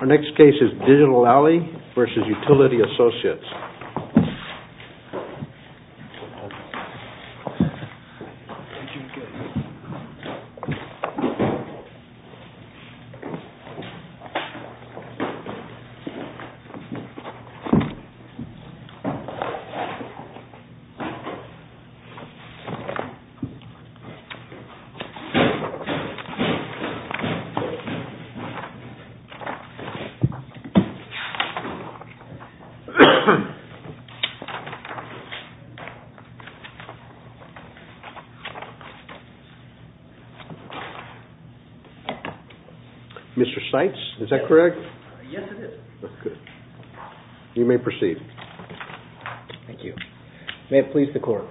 Our next case is Digital Ally v. Utility Associates. Mr. Seitz, is that correct? Yes, it is. That's good. You may proceed. Thank you. May it please the Court.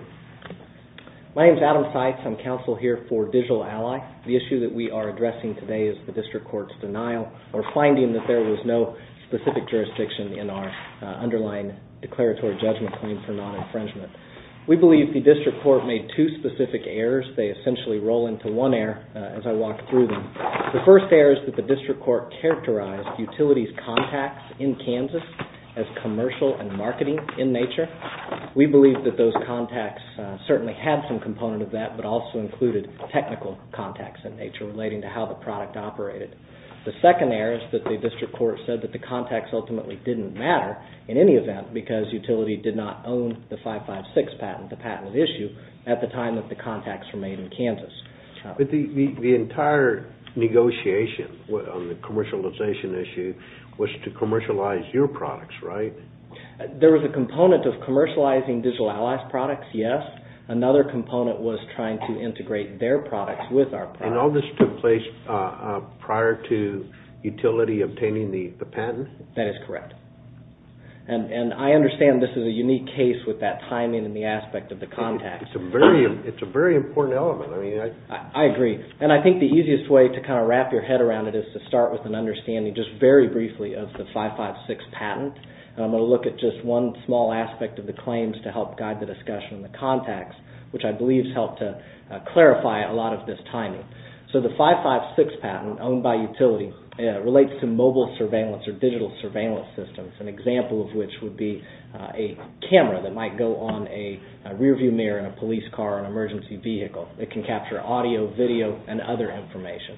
My name's Adam Seitz. I'm counsel here for Digital Ally. The issue that we are addressing today is the District Court's denial of the finding that there was no specific jurisdiction in our underlying declaratory judgment claim for non-infringement. We believe the District Court made two specific errors. They essentially roll into one error as I walk through them. The first error is that the District Court characterized utilities' contacts in Kansas as commercial and marketing in nature. We believe that those contacts certainly had some component of that but also included technical contacts in nature relating to how the product operated. The second error is that the District Court said that the contacts ultimately didn't matter in any event because utility did not own the 556 patent, the patent at issue, at the time that the contacts were made in Kansas. But the entire negotiation on the commercialization issue was to commercialize your products, right? There was a component of commercializing Digital Ally's products, yes. Another component was trying to integrate their products with our products. All this took place prior to utility obtaining the patent? That is correct. I understand this is a unique case with that timing and the aspect of the contacts. It's a very important element. I agree. I think the easiest way to wrap your head around it is to start with an understanding just very briefly of the 556 patent. I'm going to look at just one small aspect of the claims to help guide the So the 556 patent owned by utility relates to mobile surveillance or digital surveillance systems, an example of which would be a camera that might go on a rear view mirror in a police car or an emergency vehicle. It can capture audio, video, and other information.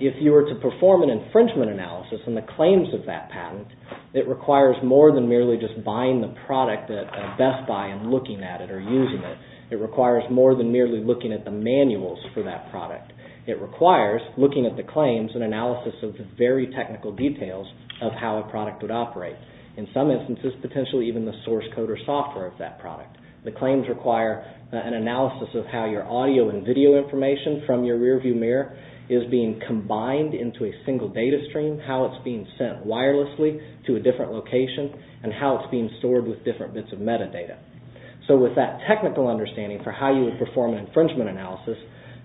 If you were to perform an infringement analysis on the claims of that patent, it requires more than merely just buying the product at Best Buy and looking at it or using it. It requires more than merely looking at the manuals for that product. It requires looking at the claims and analysis of the very technical details of how a product would operate. In some instances, potentially even the source code or software of that product. The claims require an analysis of how your audio and video information from your rear view mirror is being combined into a single data stream, how it's being sent wirelessly to a different location, and how it's being stored with different bits of metadata. So with that technical understanding for how you would perform an infringement analysis,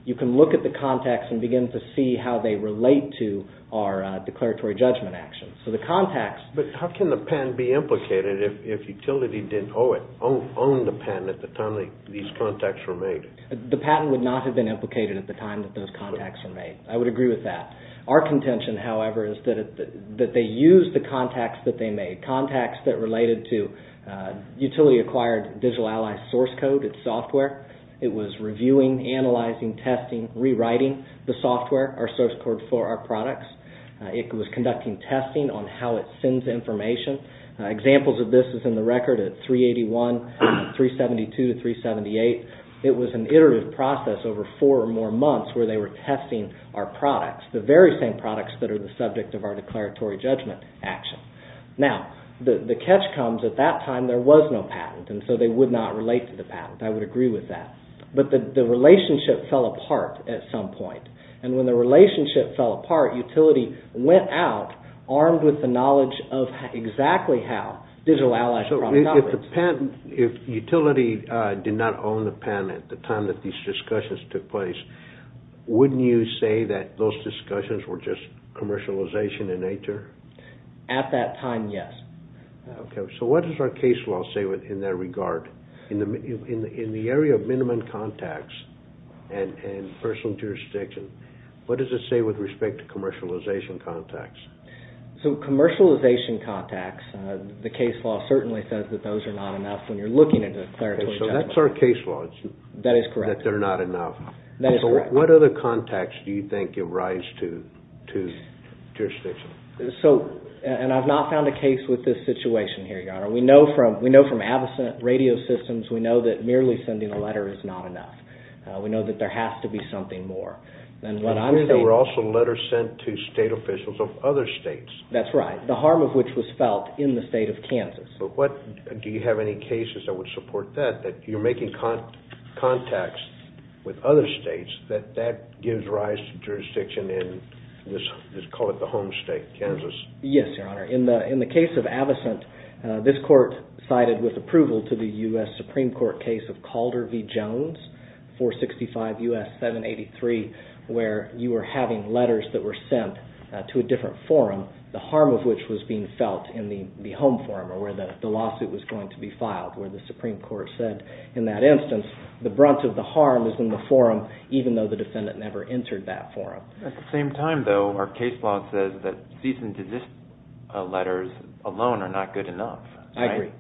you can look at the contacts and begin to see how they relate to our declaratory judgment actions. So the contacts... But how can the patent be implicated if utility didn't own the patent at the time these contacts were made? The patent would not have been implicated at the time that those contacts were made. I would agree with that. Our contention, however, is that they used the contacts that they made, contacts that related to utility-acquired Digital Allies source code, its software. It was reviewing, analyzing, testing, rewriting the software, our source code for our products. It was conducting testing on how it sends information. Examples of this is in the record at 381, 372 to 378. It was an iterative process over four or more months where they were testing our products, the very same products that are the subject of our declaratory judgment action. Now, the catch comes at that time there was no patent, and so they would not relate to the patent. I would agree with that. But the relationship fell apart at some point. And when the relationship fell apart, utility went out armed with the knowledge of exactly how, Digital Allies product knowledge. So if utility did not own the patent at the time that these discussions took place, wouldn't you say that those discussions were just commercialization in nature? At that time, yes. Okay. So what does our case law say in that regard? In the area of minimum contacts and personal jurisdiction, what does it say with respect to commercialization contacts? So commercialization contacts, the case law certainly says that those are not enough when you're looking at a declaratory judgment. Okay. So that's our case law. That is correct. That they're not enough. That is correct. What other contacts do you think give rise to jurisdiction? So, and I've not found a case with this situation here, Your Honor. We know from absent radio systems, we know that merely sending a letter is not enough. We know that there has to be something more. And what I'm saying is there were also letters sent to state officials of other states. That's right. The harm of which was felt in the state of Kansas. But what, do you have any cases that would support that, that you're making contacts with other states, that that gives rise to jurisdiction in, let's call it the home state, Kansas? Yes, Your Honor. In the case of Avocent, this court cited with approval to the U.S. Supreme Court case of Calder v. Jones, 465 U.S. 783, where you were having letters that were sent to a different forum, the harm of which was being felt in the home forum or where the lawsuit was going to be filed, where the Supreme Court said in that instance, the brunt of the harm is in the forum, even though the defendant never entered that forum. At the same time, though, our case log says that cease and desist letters alone are not good enough. I agree.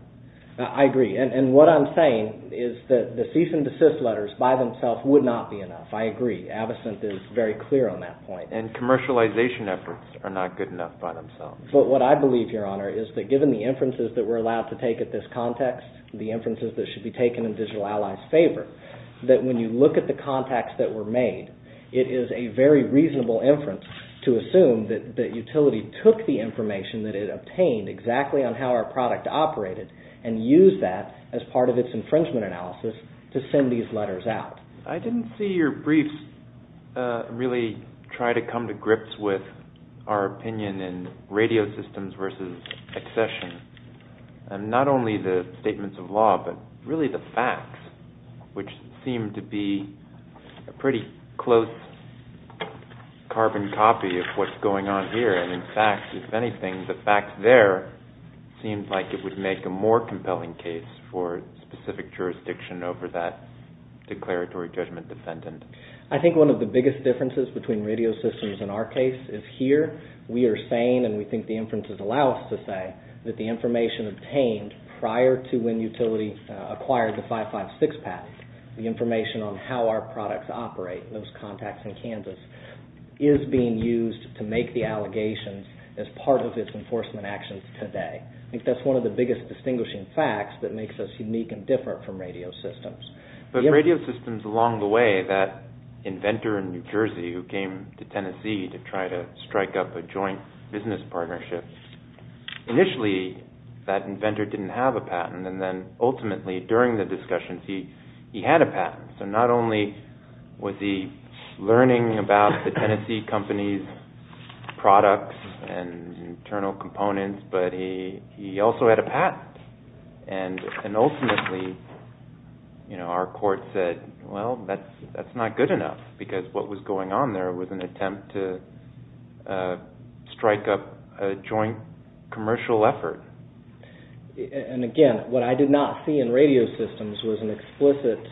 I agree. And what I'm saying is that the cease and desist letters by themselves would not be enough. I agree. Avocent is very clear on that point. And commercialization efforts are not good enough by themselves. But what I believe, Your Honor, is that given the inferences that we're allowed to take at this context, the inferences that should be taken in Digital Allies' favor, that when you look at the contacts that were made, it is a very reasonable inference to assume that the utility took the information that it obtained exactly on how our product operated and used that as part of its infringement analysis to send these letters out. I didn't see your brief really try to come to grips with our opinion in radio systems versus accession, and not only the statements of law but really the facts, which seem to be a pretty close carbon copy of what's going on here. And, in fact, if anything, the fact there seems like it would make a more compelling case for specific jurisdiction over that declaratory judgment defendant. I think one of the biggest differences between radio systems in our case is here we are saying, and we think the inferences allow us to say, that the information obtained prior to when utility acquired the 556 patent, the information on how our products operate, those contacts in Kansas, is being used to make the allegations as part of its enforcement actions today. I think that's one of the biggest distinguishing facts that makes us unique and different from radio systems. But radio systems along the way, that inventor in New Jersey who came to Tennessee to try to strike up a joint business partnership, initially that inventor didn't have a patent, and then ultimately during the discussions he had a patent. So not only was he learning about the Tennessee company's products and internal components, but he also had a patent. And ultimately our court said, well, that's not good enough because what was going on there was an attempt to strike up a joint commercial effort. And again, what I did not see in radio systems was an explicit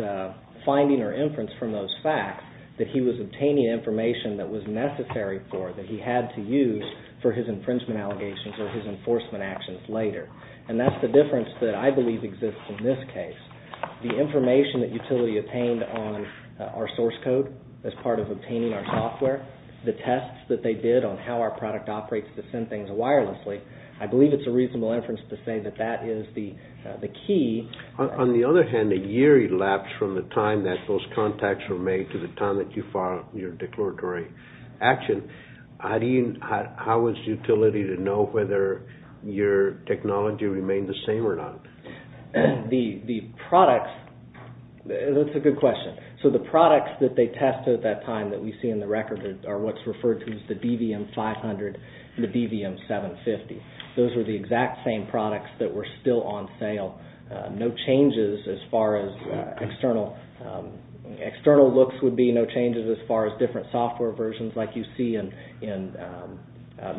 finding or inference from those facts that he was obtaining information that was necessary for, that he had to use for his infringement allegations or his enforcement actions later. And that's the difference that I believe exists in this case. The information that Utility obtained on our source code as part of obtaining our software, the tests that they did on how our product operates to send things wirelessly, I believe it's a reasonable inference to say that that is the key. On the other hand, a year elapsed from the time that those contacts were made to the time that you filed your declaratory action. How was Utility to know whether your technology remained the same or not? The products, that's a good question. So the products that they tested at that time that we see in the record are what's referred to as the DVM-500 and the DVM-750. Those were the exact same products that were still on sale, no changes as far as external looks would be, no changes as far as different software versions like you see in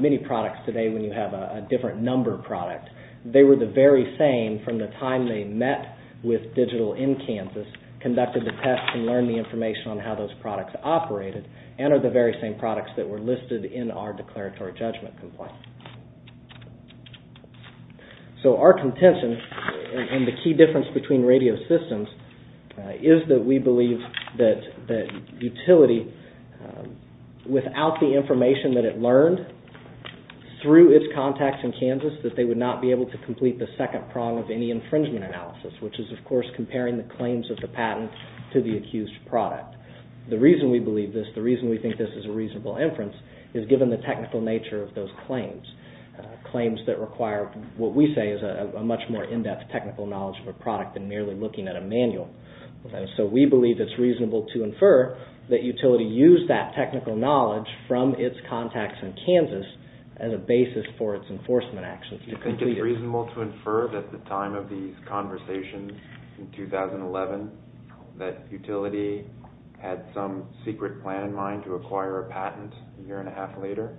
many products today when you have a different number product. They were the very same from the time they met with Digital in Kansas, conducted the tests and learned the information on how those products operated, and are the very same products that were listed in our declaratory judgment complaint. So our contention, and the key difference between radio systems, is that we believe that Utility, without the information that it learned through its contacts in Kansas, that they would not be able to complete the second prong of any infringement analysis, which is of course comparing the claims of the patent to the accused product. The reason we believe this, the reason we think this is a reasonable inference, is given the technical nature of those claims. Claims that require what we say is a much more in-depth technical knowledge of a product than merely looking at a manual. So we believe it's reasonable to infer that Utility used that technical knowledge from its contacts in Kansas as a basis for its enforcement actions. Do you think it's reasonable to infer that at the time of these conversations in 2011, that Utility had some secret plan in mind to acquire a patent a year and a half later?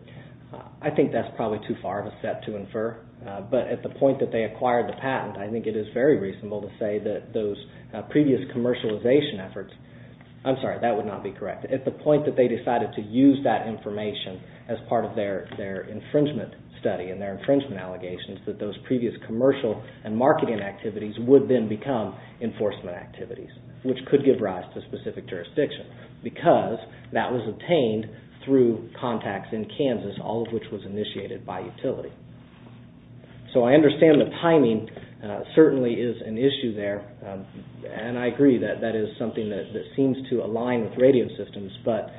I think that's probably too far of a step to infer. But at the point that they acquired the patent, I think it is very reasonable to say that those previous commercialization efforts, I'm sorry, that would not be correct. At the point that they decided to use that information as part of their infringement study and their infringement allegations, that those previous commercial and marketing activities would then become enforcement activities, which could give rise to specific jurisdiction, because that was obtained through contacts in Kansas, all of which was initiated by Utility. So I understand the timing certainly is an issue there, and I agree that that is something that seems to align with radio systems, but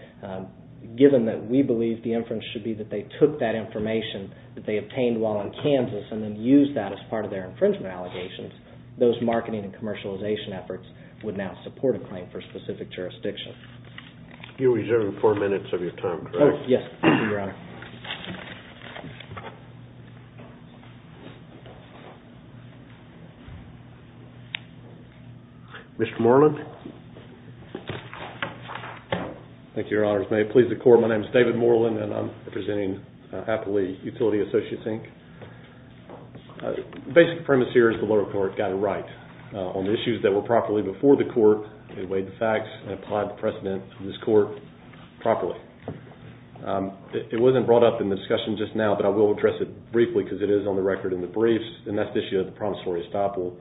given that we believe the inference should be that they took that information that they obtained while in Kansas and then used that as part of their infringement allegations, those marketing and commercialization efforts would now support a claim for specific jurisdiction. You're reserving four minutes of your time, correct? Yes, Your Honor. Mr. Moreland? Thank you, Your Honors. May it please the Court. My name is David Moreland, and I'm representing Appley Utility Associates, Inc. The basic premise here is the lower court got it right. On the issues that were properly before the court, they weighed the facts and applied the precedent to this court properly. It wasn't brought up in the discussion just now, but I will address it briefly because it is on the record in the briefs, and that's the issue of the promissory estoppel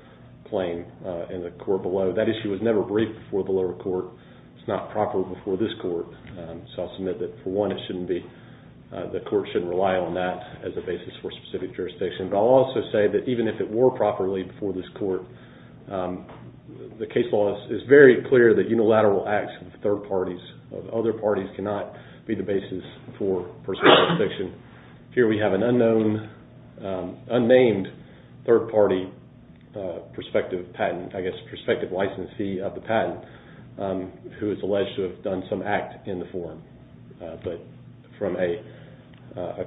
claim in the court below. That issue was never briefed before the lower court. It's not proper before this court, so I'll submit that, for one, the court shouldn't rely on that as a basis for specific jurisdiction, but I'll also say that even if it were properly before this court, the case law is very clear that unilateral acts of third parties, of other parties, cannot be the basis for specific jurisdiction. Here we have an unknown, unnamed third-party prospective patent, I guess prospective licensee of the patent, who is alleged to have done some act in the forum. But from a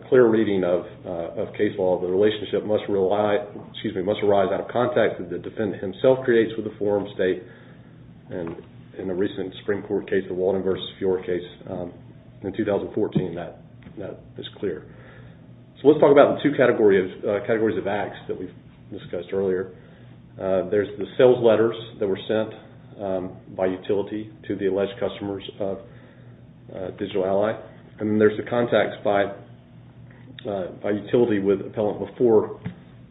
clear reading of case law, the relationship must arise out of contact that the defendant himself creates with the forum state. In a recent Supreme Court case, the Walden v. Fiore case in 2014, that is clear. So let's talk about the two categories of acts that we've discussed earlier. There's the sales letters that were sent by utility to the alleged customers of Digital Ally, and there's the contacts by utility with appellant before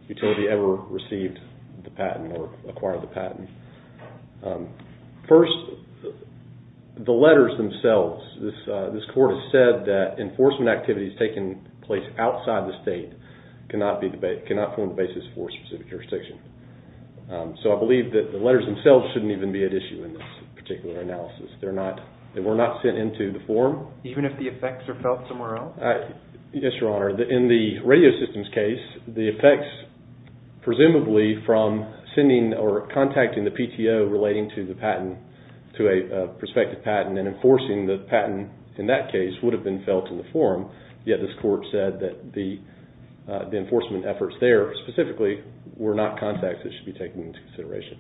utility ever received the patent or acquired the patent. First, the letters themselves. This court has said that enforcement activities taking place outside the state cannot form the basis for specific jurisdiction. So I believe that the letters themselves shouldn't even be at issue in this particular analysis. They were not sent into the forum. Even if the effects are felt somewhere else? Yes, Your Honor. In the radio systems case, the effects presumably from sending or contacting the PTO relating to the patent, to a prospective patent and enforcing the patent in that case would have been felt in the forum. Yet this court said that the enforcement efforts there specifically were not contacts that should be taken into consideration.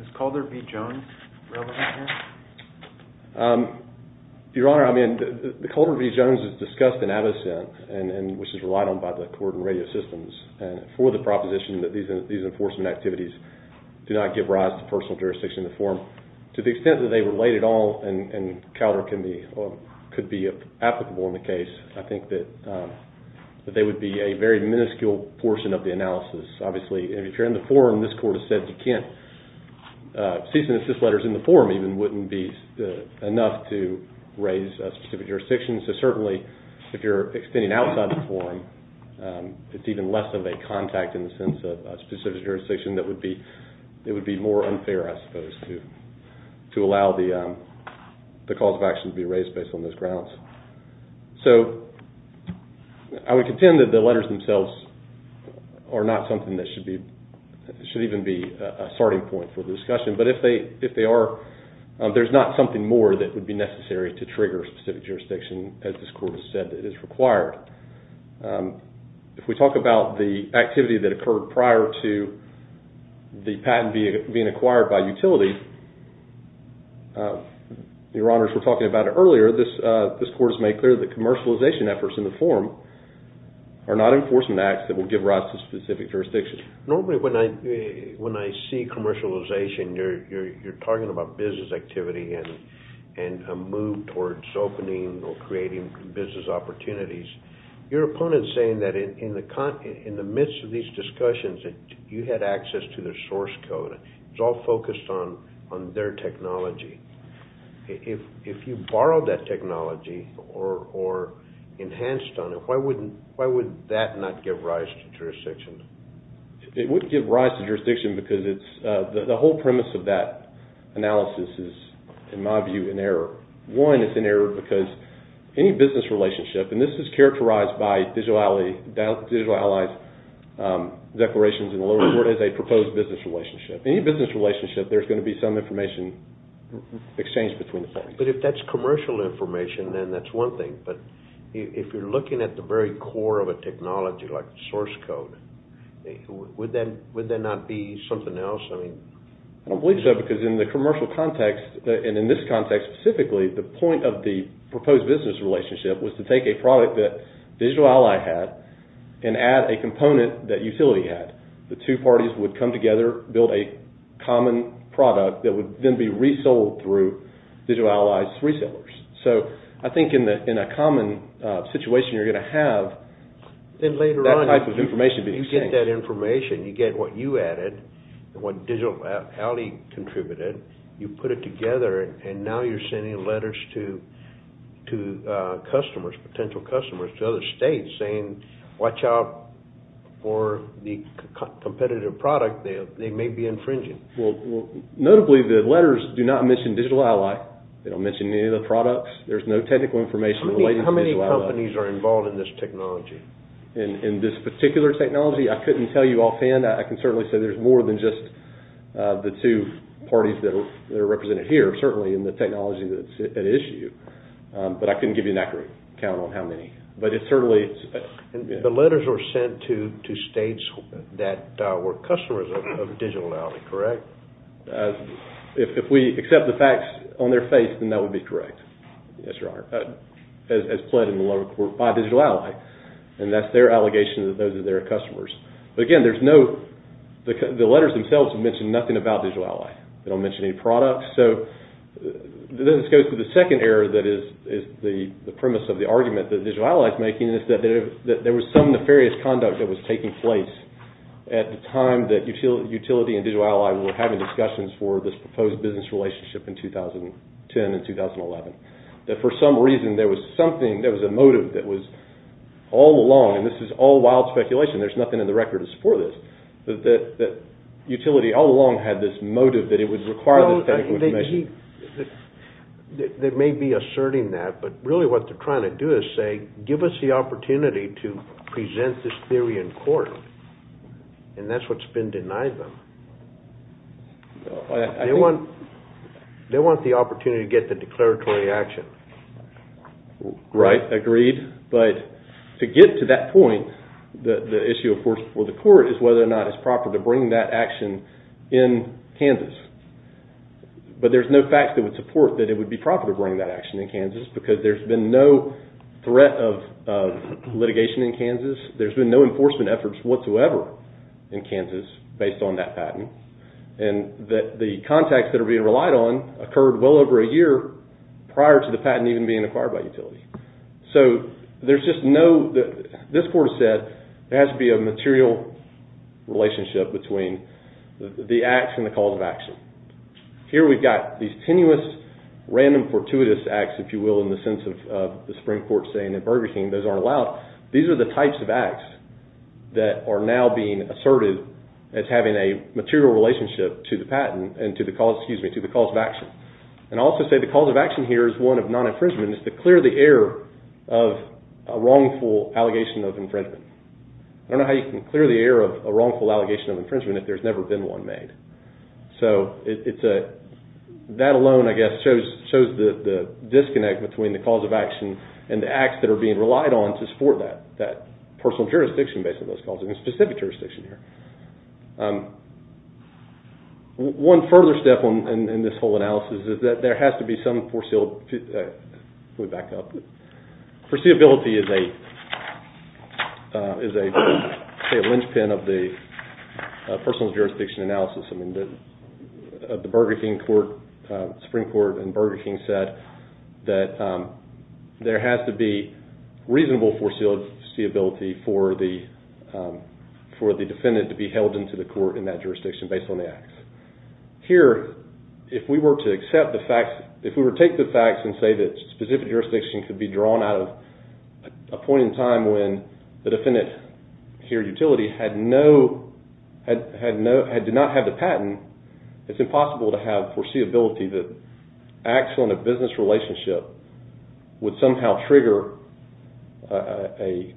Is Calder v. Jones relevant here? Your Honor, I mean, the Calder v. Jones is discussed in Avocent, which is relied on by the court in radio systems for the proposition that these enforcement activities do not give rise to personal jurisdiction in the forum. To the extent that they relate at all and Calder could be applicable in the case, I think that they would be a very minuscule portion of the analysis. Obviously, if you're in the forum, this court has said you can't. Cease and desist letters in the forum even wouldn't be enough to raise a specific jurisdiction. So certainly if you're extending outside the forum, it's even less of a contact in the sense of a specific jurisdiction that would be more unfair, I suppose, to allow the cause of action to be raised based on those grounds. So I would contend that the letters themselves are not something that should even be a starting point for the discussion. But if they are, there's not something more that would be necessary to trigger specific jurisdiction, as this court has said that is required. If we talk about the activity that occurred prior to the patent being acquired by utility, Your Honor, as we were talking about earlier, this court has made clear that commercialization efforts in the forum are not enforcement acts that will give rise to specific jurisdiction. Normally when I see commercialization, you're talking about business activity and a move towards opening or creating business opportunities. Your opponent is saying that in the midst of these discussions, you had access to their source code. It was all focused on their technology. If you borrowed that technology or enhanced on it, why would that not give rise to jurisdiction? It wouldn't give rise to jurisdiction because the whole premise of that analysis is, in my view, an error. One, it's an error because any business relationship, and this is characterized by Digital Allies' declarations in the lower court as a proposed business relationship. Any business relationship, there's going to be some information exchanged between the parties. But if that's commercial information, then that's one thing. But if you're looking at the very core of a technology like source code, would that not be something else? I don't believe so because in the commercial context, and in this context specifically, the point of the proposed business relationship was to take a product that Digital Ally had and add a component that utility had. The two parties would come together, build a common product that would then be resold through Digital Allies' resellers. So I think in a common situation, you're going to have that type of information being exchanged. Then later on, you get that information. You get what you added and what Digital Ally contributed. You put it together, and now you're sending letters to customers, potential customers, to other states saying, watch out for the competitive product they may be infringing. Well, notably, the letters do not mention Digital Ally. They don't mention any of the products. There's no technical information related to Digital Ally. How many companies are involved in this technology? In this particular technology, I couldn't tell you offhand. I can certainly say there's more than just the two parties that are represented here, certainly in the technology that's at issue. But I couldn't give you an accurate count on how many. The letters were sent to states that were customers of Digital Ally, correct? If we accept the facts on their face, then that would be correct, as pled in the lower court by Digital Ally. And that's their allegation that those are their customers. But again, the letters themselves mention nothing about Digital Ally. They don't mention any products. So this goes to the second error that is the premise of the argument that Digital Ally is making, and it's that there was some nefarious conduct that was taking place at the time that Utility and Digital Ally were having discussions for this proposed business relationship in 2010 and 2011, that for some reason there was something, there was a motive that was all along, and this is all wild speculation, there's nothing in the records for this, that Utility all along had this motive that it would require this type of information. They may be asserting that, but really what they're trying to do is say, give us the opportunity to present this theory in court. And that's what's been denied them. They want the opportunity to get the declaratory action. Right, agreed. But to get to that point, the issue of force before the court is whether or not it's proper to bring that action in Kansas. But there's no facts that would support that it would be proper to bring that action in Kansas because there's been no threat of litigation in Kansas. There's been no enforcement efforts whatsoever in Kansas based on that patent. And the contacts that are being relied on occurred well over a year prior to the patent even being acquired by Utility. So there's just no, this court has said, there has to be a material relationship between the acts and the cause of action. Here we've got these tenuous random fortuitous acts, if you will, in the sense of the Supreme Court saying in Burger King those aren't allowed. These are the types of acts that are now being asserted as having a material relationship to the patent, and to the cause, excuse me, to the cause of action. And I'll also say the cause of action here is one of non-infringement. It's to clear the air of a wrongful allegation of infringement. I don't know how you can clear the air of a wrongful allegation of infringement if there's never been one made. So that alone, I guess, shows the disconnect between the cause of action and the acts that are being relied on to support that personal jurisdiction based on those causes, a specific jurisdiction here. One further step in this whole analysis is that there has to be some foresealed, let me back up, foreseeability is a linchpin of the personal jurisdiction analysis. I mean the Burger King Court, Supreme Court in Burger King said that there has to be reasonable foreseeability for the defendant to be held into the court in that jurisdiction based on the acts. Here, if we were to accept the facts, if we were to take the facts and say that specific jurisdiction could be drawn out of a point in time when the defendant here, utility, did not have the patent, it's impossible to have foreseeability that acts on a business relationship would somehow trigger a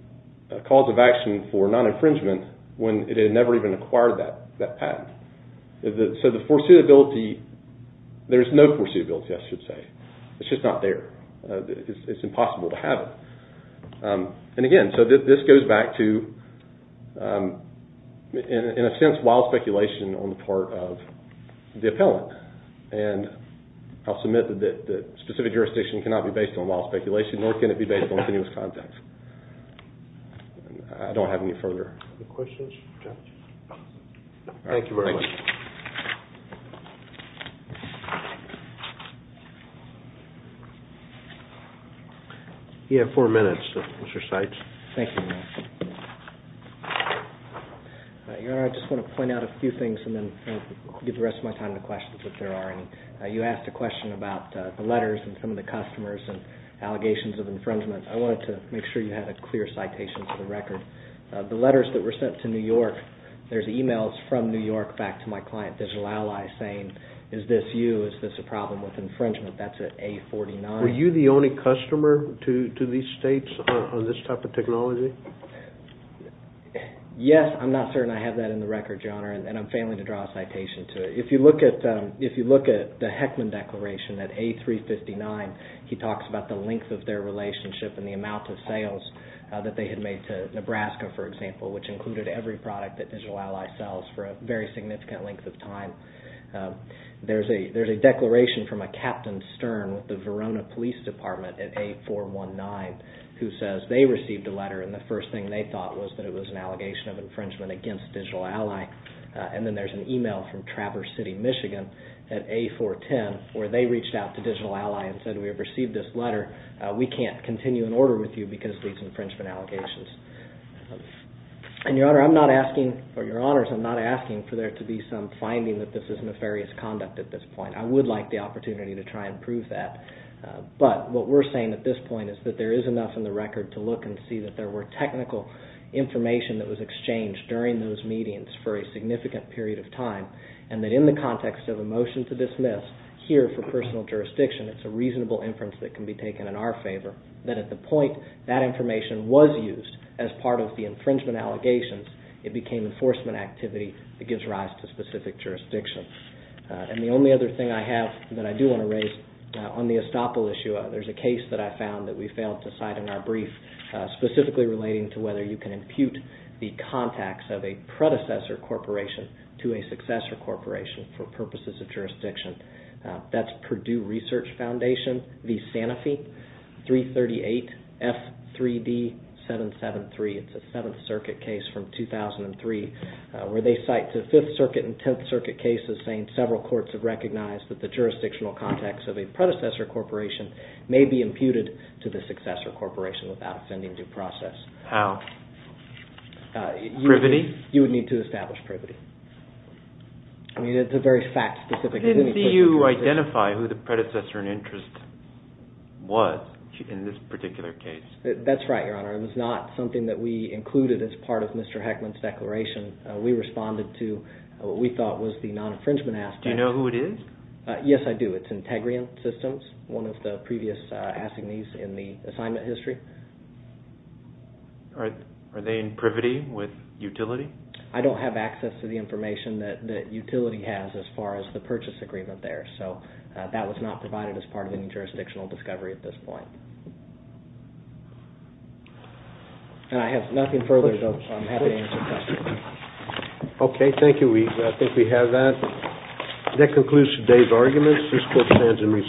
cause of action for non-infringement when it had never even acquired that patent. So the foreseeability, there's no foreseeability, I should say. It's just not there. It's impossible to have it. And again, so this goes back to, in a sense, wild speculation on the part of the appellant. And I'll submit that specific jurisdiction cannot be based on wild speculation, nor can it be based on continuous context. I don't have any further questions. Thank you very much. You have four minutes, Mr. Seitz. Thank you. Your Honor, I just want to point out a few things and then give the rest of my time to questions if there are any. You asked a question about the letters and some of the customers and allegations of infringement. I wanted to make sure you had a clear citation for the record. The letters that were sent to New York, there's emails from New York back to my client, Digital Allies, saying, is this you? Is this a problem with infringement? That's at A49. Were you the only customer to these states on this type of technology? Yes, I'm not certain I have that in the record, Your Honor, and I'm failing to draw a citation to it. If you look at the Heckman Declaration at A359, he talks about the length of their relationship and the amount of sales that they had made to Nebraska, for example, which included every product that Digital Allies sells for a very significant length of time. There's a declaration from a Captain Stern with the Verona Police Department at A419 who says they received a letter and the first thing they thought was that it was an allegation of infringement against Digital Ally. And then there's an email from Traverse City, Michigan at A410 where they reached out to Digital Ally and said we have received this letter. We can't continue an order with you because of these infringement allegations. And, Your Honor, I'm not asking for there to be some finding that this is nefarious conduct at this point. I would like the opportunity to try and prove that. But what we're saying at this point is that there is enough in the record to look and see that there were technical information that was exchanged during those meetings for a significant period of time and that in the context of a motion to dismiss, here for personal jurisdiction, it's a reasonable inference that can be taken in our favor that at the point that information was used, as part of the infringement allegations, it became enforcement activity that gives rise to specific jurisdiction. And the only other thing I have that I do want to raise on the estoppel issue, there's a case that I found that we failed to cite in our brief, specifically relating to whether you can impute the contacts of a predecessor corporation to a successor corporation for purposes of jurisdiction. That's Purdue Research Foundation v. Sanofi, 338F3D773. It's a Seventh Circuit case from 2003 where they cite the Fifth Circuit and Tenth Circuit cases saying several courts have recognized that the jurisdictional contacts of a predecessor corporation may be imputed to the successor corporation without offending due process. How? Privity? You would need to establish privity. I mean, it's a very fact-specific case. I didn't see you identify who the predecessor in interest was in this particular case. That's right, Your Honor. It was not something that we included as part of Mr. Heckman's declaration. We responded to what we thought was the non-infringement aspect. Do you know who it is? Yes, I do. It's Integrium Systems, one of the previous assignees in the assignment history. Are they in privity with utility? I don't have access to the information that utility has as far as the purchase agreement there, so that was not provided as part of any jurisdictional discovery at this point. And I have nothing further, so I'm happy to answer questions. Okay, thank you. I think we have that. That concludes today's arguments. This court stands in recess.